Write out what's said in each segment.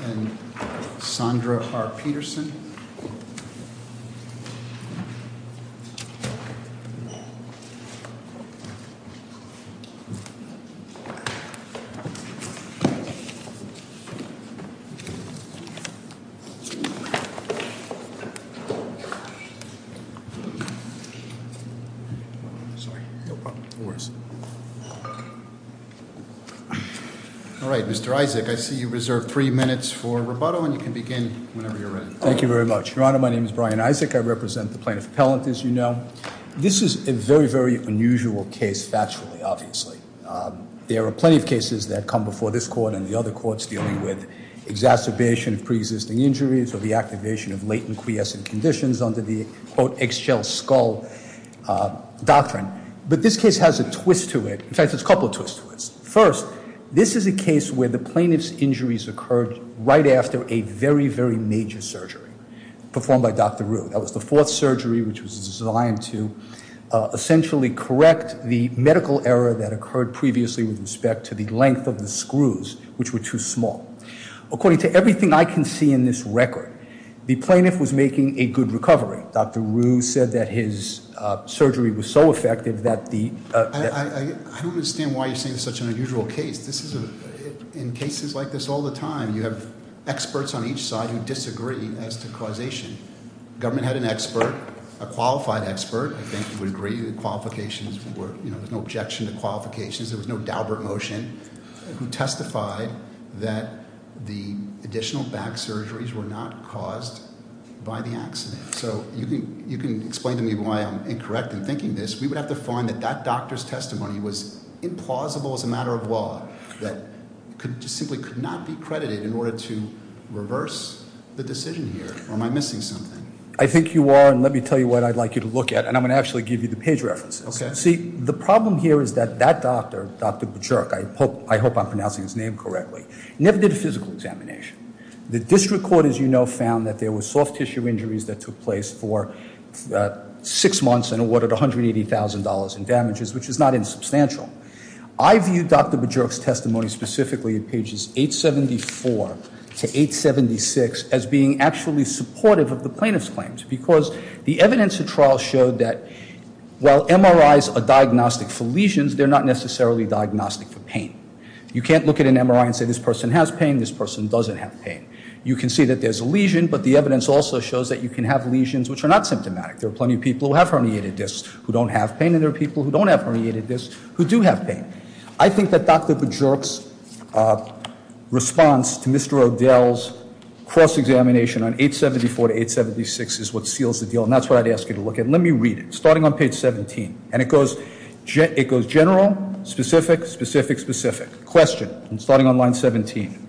v. Sandra R. Peterson All right, Mr. Isaac, I see you reserved three minutes for rebuttal, and you can begin whenever you're ready. Thank you very much. Your Honor, my name is Brian Isaac. I represent the plaintiff appellant, as you know. This is a very, very unusual case, factually, obviously. There are plenty of cases that come before this court and the other courts dealing with exacerbation of pre-existing injuries or the activation of latent quiescent conditions under the, quote, eggshell skull doctrine. But this case has a twist to it, in fact, there's a couple of twists to it. First, this is a case where the plaintiff's injuries occurred right after a very, very major surgery performed by Dr. Rue. That was the fourth surgery, which was designed to essentially correct the medical error that occurred previously with respect to the length of the screws, which were too small. According to everything I can see in this record, the plaintiff was making a good recovery. Dr. Rue said that his surgery was so effective that the- I don't understand why you're saying it's such an unusual case. This is a, in cases like this all the time, you have experts on each side who disagree as to causation. Government had an expert, a qualified expert, I think you would agree, the qualifications were, there was no objection to qualifications. There was no Daubert motion who testified that the additional back surgeries were not caused by the accident. So you can explain to me why I'm incorrect in thinking this. We would have to find that that doctor's testimony was implausible as a matter of law, that simply could not be credited in order to reverse the decision here, or am I missing something? I think you are, and let me tell you what I'd like you to look at, and I'm going to actually give you the page references. Okay. See, the problem here is that that doctor, Dr. Bichurk, I hope I'm pronouncing his name correctly, never did a physical examination. The district court, as you know, found that there were soft tissue injuries that took place for six months and awarded $180,000 in damages, which is not insubstantial. I view Dr. Bichurk's testimony specifically in pages 874 to 876 as being actually supportive of the plaintiff's claims. Because the evidence of trial showed that while MRIs are diagnostic for lesions, they're not necessarily diagnostic for pain. You can't look at an MRI and say this person has pain, this person doesn't have pain. You can see that there's a lesion, but the evidence also shows that you can have lesions which are not symptomatic. There are plenty of people who have herniated discs who don't have pain, and there are people who don't have herniated discs who do have pain. I think that Dr. Bichurk's response to Mr. O'Dell's cross-examination on 874 to 876 is what seals the deal, and that's what I'd ask you to look at. Let me read it, starting on page 17. And it goes general, specific, specific, specific. Question, starting on line 17.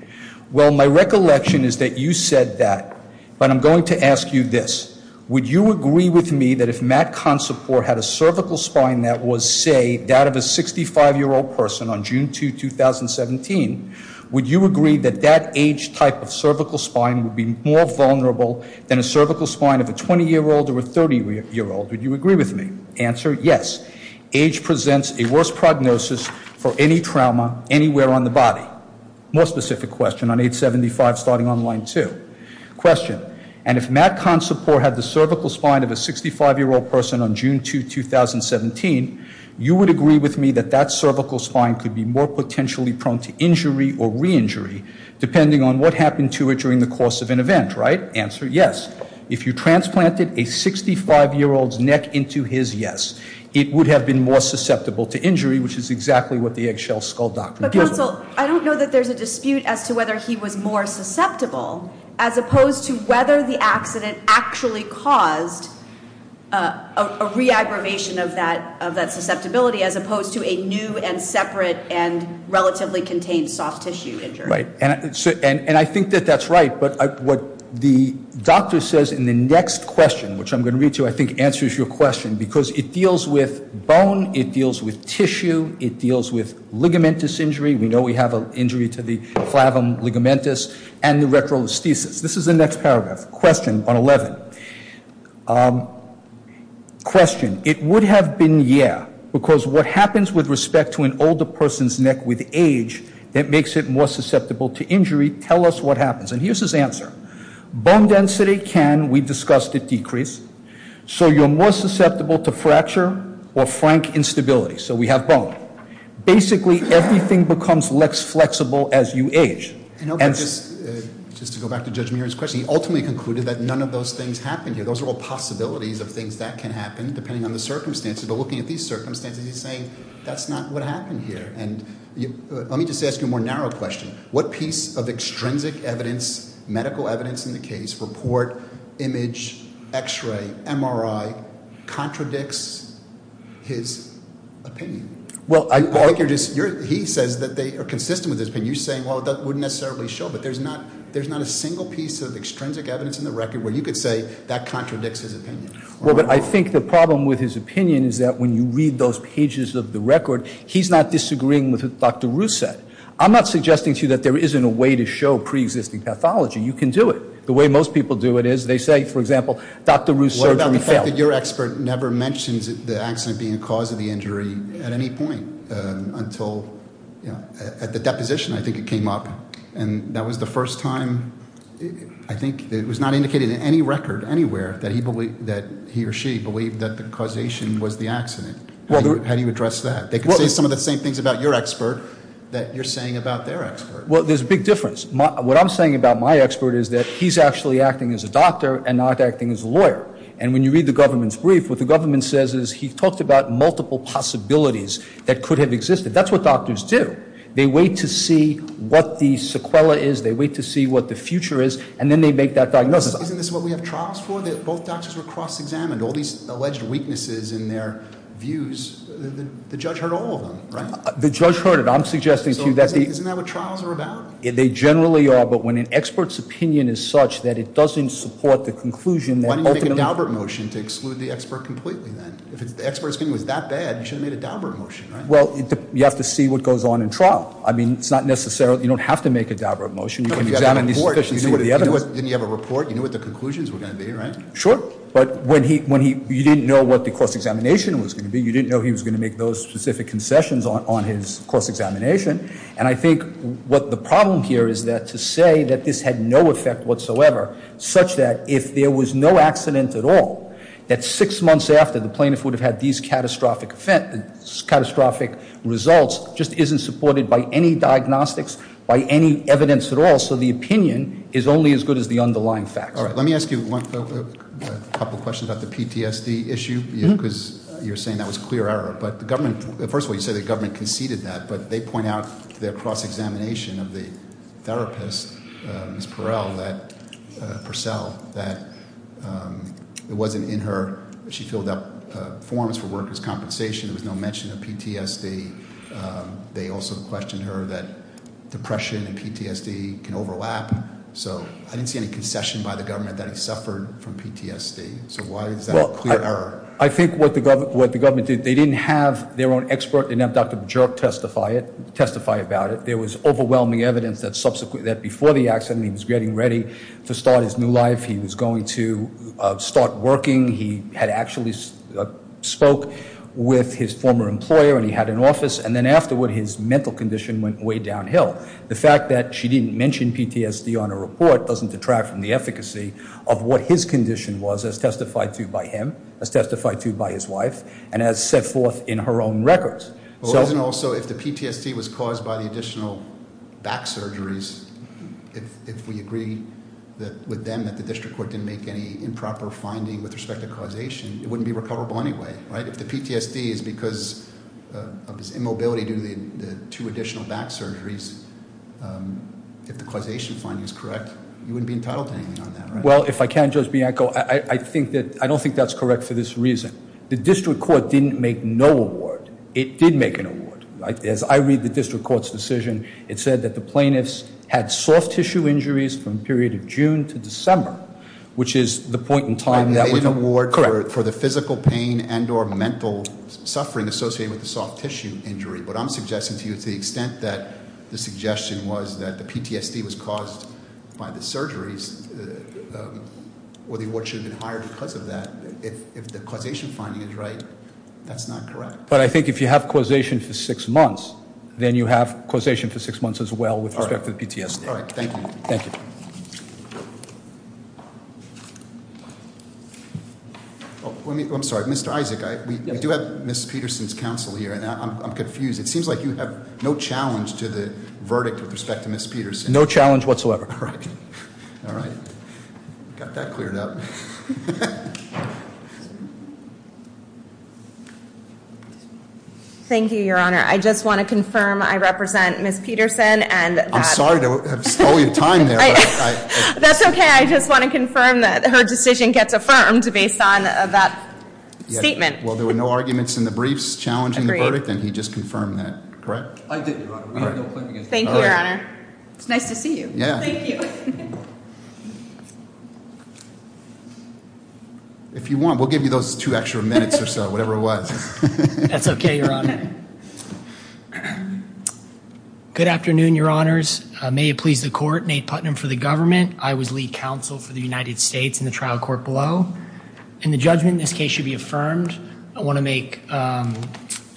Well, my recollection is that you said that, but I'm going to ask you this. Would you agree with me that if Matt Consoport had a cervical spine that was, say, that of a 65-year-old person on June 2, 2017, would you agree that that age type of cervical spine would be more vulnerable than a cervical spine of a 20-year-old or a 30-year-old? Would you agree with me? Answer, yes. Age presents a worse prognosis for any trauma anywhere on the body. More specific question on 875, starting on line two. Question, and if Matt Consoport had the cervical spine of a 65-year-old person on June 2, 2017, you would agree with me that that cervical spine could be more potentially prone to injury or reinjury depending on what happened to it during the course of an event, right? Answer, yes. If you transplanted a 65-year-old's neck into his, yes. It would have been more susceptible to injury, which is exactly what the eggshell skull doctor did. But counsel, I don't know that there's a dispute as to whether he was more susceptible as opposed to whether the accident actually caused a re-aggravation of that susceptibility as opposed to a new and separate and relatively contained soft tissue injury. Right, and I think that that's right, but what the doctor says in the next question, which I'm going to read to you, I think answers your question, because it deals with bone, it deals with tissue, it deals with ligamentous injury. We know we have an injury to the clavum ligamentous and the retrosthesis. This is the next paragraph, question on 11. Question, it would have been yeah, because what happens with respect to an older person's neck with age, that makes it more susceptible to injury, tell us what happens. And here's his answer. Bone density can, we discussed it, decrease. So you're more susceptible to fracture or frank instability, so we have bone. Basically, everything becomes less flexible as you age. And- Just to go back to Judge Muir's question, he ultimately concluded that none of those things happen here. Those are all possibilities of things that can happen, depending on the circumstances. But looking at these circumstances, he's saying that's not what happened here. And let me just ask you a more narrow question. What piece of extrinsic evidence, medical evidence in the case, report, image, x-ray, MRI, contradicts his opinion? Well, I- He says that they are consistent with his opinion. You're saying, well, that wouldn't necessarily show, but there's not a single piece of extrinsic evidence in the record where you could say that contradicts his opinion. Well, but I think the problem with his opinion is that when you read those pages of the record, he's not disagreeing with what Dr. Ruth said. I'm not suggesting to you that there isn't a way to show pre-existing pathology. You can do it. The way most people do it is, they say, for example, Dr. Ruth's surgery failed. What about the fact that your expert never mentions the accident being a cause of the injury at any point until, at the deposition, I think it came up. And that was the first time, I think, that it was not indicated in any record, anywhere, that he or she believed that the causation was the accident. How do you address that? They can say some of the same things about your expert that you're saying about their expert. Well, there's a big difference. What I'm saying about my expert is that he's actually acting as a doctor and not acting as a lawyer. And when you read the government's brief, what the government says is he talked about multiple possibilities that could have existed. That's what doctors do. They wait to see what the sequela is, they wait to see what the future is, and then they make that diagnosis. Isn't this what we have trials for, that both doctors were cross-examined? All these alleged weaknesses in their views, the judge heard all of them, right? The judge heard it. I'm suggesting to you that the- Isn't that what trials are about? They generally are, but when an expert's opinion is such that it doesn't support the conclusion that ultimately- Why didn't you make a Daubert motion to exclude the expert completely then? If the expert's opinion was that bad, you should have made a Daubert motion, right? Well, you have to see what goes on in trial. I mean, it's not necessarily, you don't have to make a Daubert motion. You can examine the sufficiency of the evidence. Didn't you have a report? You knew what the conclusions were going to be, right? Sure, but you didn't know what the cross-examination was going to be. You didn't know he was going to make those specific concessions on his cross-examination. And I think what the problem here is that to say that this had no effect whatsoever, such that if there was no accident at all, that six months after the plaintiff would have had these catastrophic results, just isn't supported by any diagnostics, by any evidence at all. So the opinion is only as good as the underlying facts. All right, let me ask you a couple questions about the PTSD issue, because you're saying that was clear error. But the government, first of all, you said the government conceded that, but they point out their cross-examination of the therapist, Ms. Perel, that, Purcell, that it wasn't in her, she filled out forms for workers' compensation, there was no mention of PTSD. They also questioned her that depression and PTSD can overlap. So I didn't see any concession by the government that he suffered from PTSD. So why is that a clear error? I think what the government did, they didn't have their own expert, and now Dr. Bajork testified about it. There was overwhelming evidence that before the accident, he was getting ready to start his new life. He was going to start working. He had actually spoke with his former employer, and he had an office. And then afterward, his mental condition went way downhill. The fact that she didn't mention PTSD on her report doesn't detract from the efficacy of what his condition was, as testified to by him, as testified to by his wife, and as set forth in her own records. So- If the PTSD was caused by the additional back surgeries, if we agree with them that the district court didn't make any improper finding with respect to causation, it wouldn't be recoverable anyway, right? If the PTSD is because of his immobility due to the two additional back surgeries, if the causation finding is correct, you wouldn't be entitled to anything on that, right? Well, if I can, Judge Bianco, I don't think that's correct for this reason. The district court didn't make no award. It did make an award. As I read the district court's decision, it said that the plaintiffs had soft tissue injuries from the period of June to December, which is the point in time that- I made an award for the physical pain and or mental suffering associated with the soft tissue injury. But I'm suggesting to you, to the extent that the suggestion was that the PTSD was caused by the surgeries, or the award should have been hired because of that, if the causation finding is right, that's not correct. But I think if you have causation for six months, then you have causation for six months as well with respect to the PTSD. All right, thank you. Thank you. I'm sorry, Mr. Isaac, we do have Ms. Peterson's counsel here, and I'm confused. It seems like you have no challenge to the verdict with respect to Ms. Peterson. No challenge whatsoever. All right. All right. Got that cleared up. Thank you, your honor. I just want to confirm I represent Ms. Peterson and- I'm sorry to have stolen your time there, but I- That's okay, I just want to confirm that her decision gets affirmed based on that statement. Well, there were no arguments in the briefs challenging the verdict, and he just confirmed that, correct? I did, your honor. We have no claim against her. Thank you, your honor. It's nice to see you. Yeah. Thank you. If you want, we'll give you those two extra minutes or so, whatever it was. It's okay, your honor. Good afternoon, your honors. May it please the court, Nate Putnam for the government. I was lead counsel for the United States in the trial court below. And the judgment in this case should be affirmed. I want to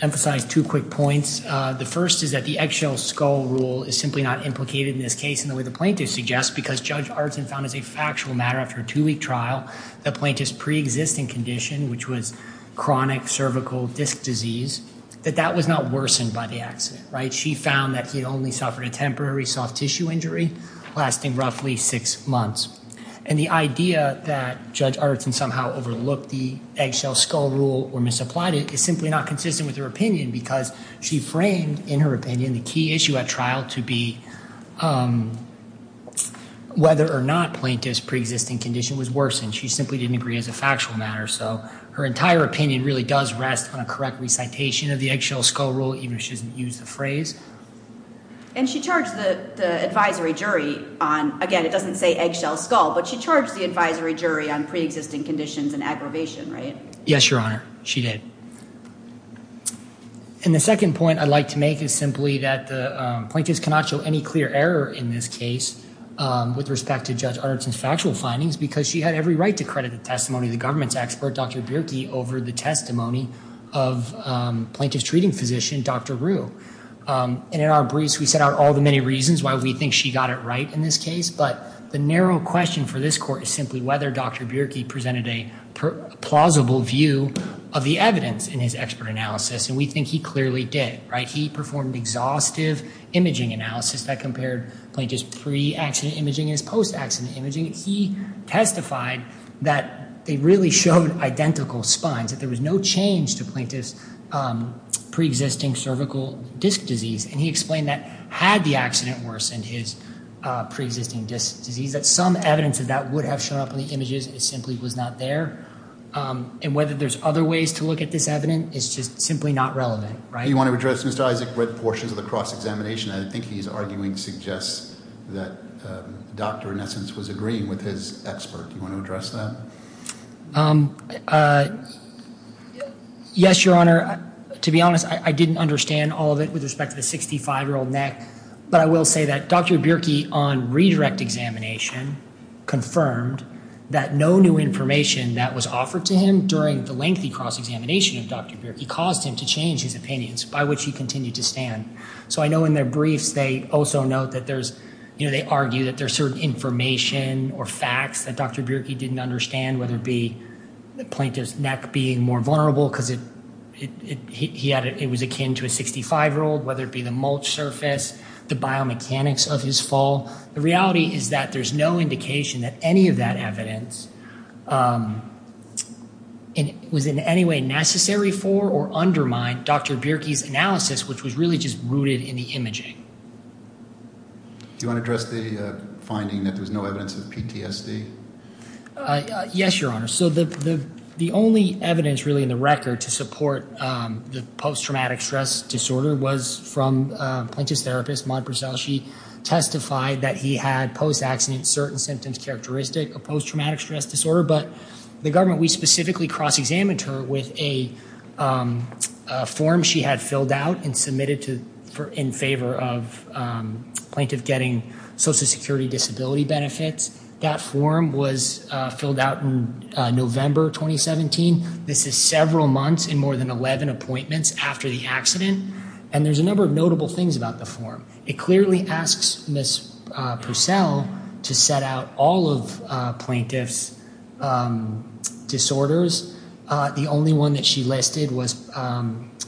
emphasize two quick points. The first is that the eggshell skull rule is simply not implicated in this case in the way the plaintiff suggests, because Judge Artson found as a factual matter after a two-week trial, the plaintiff's pre-existing condition, which was chronic cervical disc disease, that that was not worsened by the accident, right? She found that he only suffered a temporary soft tissue injury lasting roughly six months. And the idea that Judge Artson somehow overlooked the eggshell skull rule or misapplied it is simply not consistent with her opinion because she framed, in her opinion, the key issue at trial to be whether or not plaintiff's pre-existing condition was worsened. She simply didn't agree as a factual matter. So her entire opinion really does rest on a correct recitation of the eggshell skull rule, even if she doesn't use the phrase. And she charged the advisory jury on, again, it doesn't say eggshell skull, but she charged the advisory jury on pre-existing conditions and aggravation, right? Yes, your honor, she did. And the second point I'd like to make is simply that the plaintiff's cannot show any clear error in this case with respect to Judge Arnton's factual findings because she had every right to credit the testimony of the government's expert, Dr. Bierke, over the testimony of plaintiff's treating physician, Dr. Rue. And in our briefs, we set out all the many reasons why we think she got it right in this case. But the narrow question for this court is simply whether Dr. Bierke presented a plausible view of the evidence in his expert analysis. And we think he clearly did, right? He performed exhaustive imaging analysis that compared plaintiff's pre-accident imaging and his post-accident imaging. He testified that they really showed identical spines, that there was no change to plaintiff's pre-existing cervical disc disease. And he explained that had the accident worsened his pre-existing disc disease, that some evidence of that would have shown up in the images, it simply was not there. And whether there's other ways to look at this evidence is just simply not relevant, right? So you want to address, Mr. Isaac, red portions of the cross-examination. I think he's arguing, suggests that doctor, in essence, was agreeing with his expert. You want to address that? Yes, your honor. To be honest, I didn't understand all of it with respect to the 65-year-old neck. But I will say that Dr. Bierke, on redirect examination, confirmed that no new information that was offered to him during the lengthy cross-examination of Dr. Bierke caused him to change his opinions, by which he continued to stand. So I know in their briefs, they also note that there's, you know, they argue that there's certain information or facts that Dr. Bierke didn't understand, whether it be the plaintiff's neck being more vulnerable because it was akin to a 65-year-old, whether it be the mulch surface, the biomechanics of his fall. The reality is that there's no indication that any of that evidence was in any way necessary for or undermined Dr. Bierke's analysis, which was really just rooted in the imaging. Do you want to address the finding that there's no evidence of PTSD? Yes, your honor. So the only evidence really in the record to support the post-traumatic stress disorder was from plaintiff's therapist, Maude Berzel. She testified that he had post-accident certain symptoms characteristic of post-traumatic stress disorder. But the government, we specifically cross-examined her with a form she had filled out and submitted in favor of plaintiff getting social security disability benefits. That form was filled out in November 2017. This is several months in more than 11 appointments after the accident. It clearly asks Ms. Berzel to set out all of plaintiff's disorders. The only one that she listed was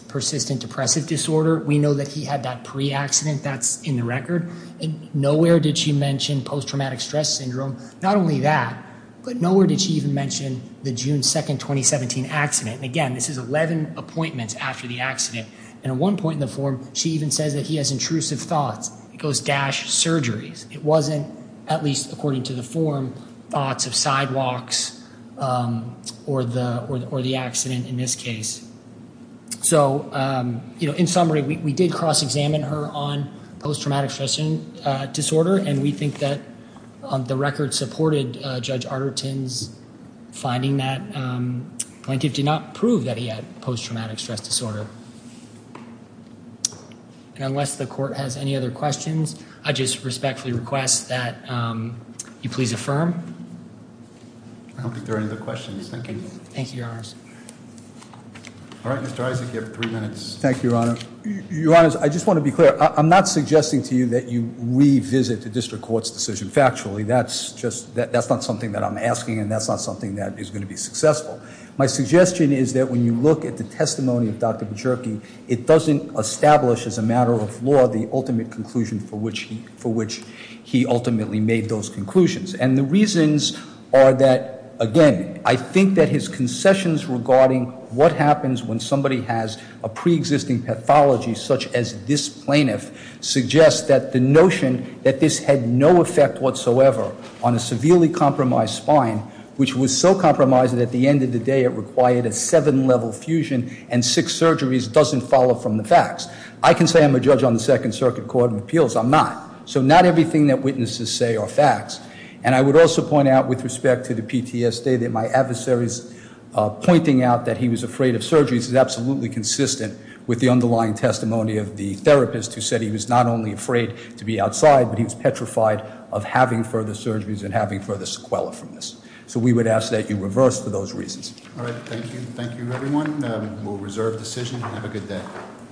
persistent depressive disorder. We know that he had that pre-accident. That's in the record. And nowhere did she mention post-traumatic stress syndrome. Not only that, but nowhere did she even mention the June 2, 2017 accident. And again, this is 11 appointments after the accident. And at one point in the form, she even says that he has intrusive thoughts. It goes dash surgeries. It wasn't, at least according to the form, thoughts of sidewalks or the accident in this case. So, you know, in summary, we did cross-examine her on post-traumatic stress disorder. And we think that the record supported Judge Arterton's finding that plaintiff did not prove that he had post-traumatic stress disorder. And unless the court has any other questions, I just respectfully request that you please affirm. I don't think there are any other questions. Thank you. Thank you, Your Honors. All right, Mr. Isaac, you have three minutes. Thank you, Your Honor. Your Honors, I just want to be clear. I'm not suggesting to you that you revisit the district court's decision. Factually, that's just, that's not something that I'm asking. And that's not something that is going to be successful. My suggestion is that when you look at the testimony of Dr. Bajerke, it doesn't establish as a matter of law the ultimate conclusion for which he ultimately made those conclusions. And the reasons are that, again, I think that his concessions regarding what happens when somebody has a pre-existing pathology such as this plaintiff suggests that the notion that this had no effect whatsoever on a severely compromised spine, which was so compromised that at the end of the day it required a seven level fusion and six surgeries doesn't follow from the facts. I can say I'm a judge on the Second Circuit Court of Appeals. I'm not. So not everything that witnesses say are facts. And I would also point out with respect to the PTSD that my adversary's pointing out that he was afraid of surgeries is absolutely consistent with the underlying testimony of the therapist who said he was not only afraid to be outside, but he was petrified of having further surgeries and having further sequela from this. So we would ask that you reverse for those reasons. All right. Thank you. Thank you, everyone. We'll reserve decision. Have a good day.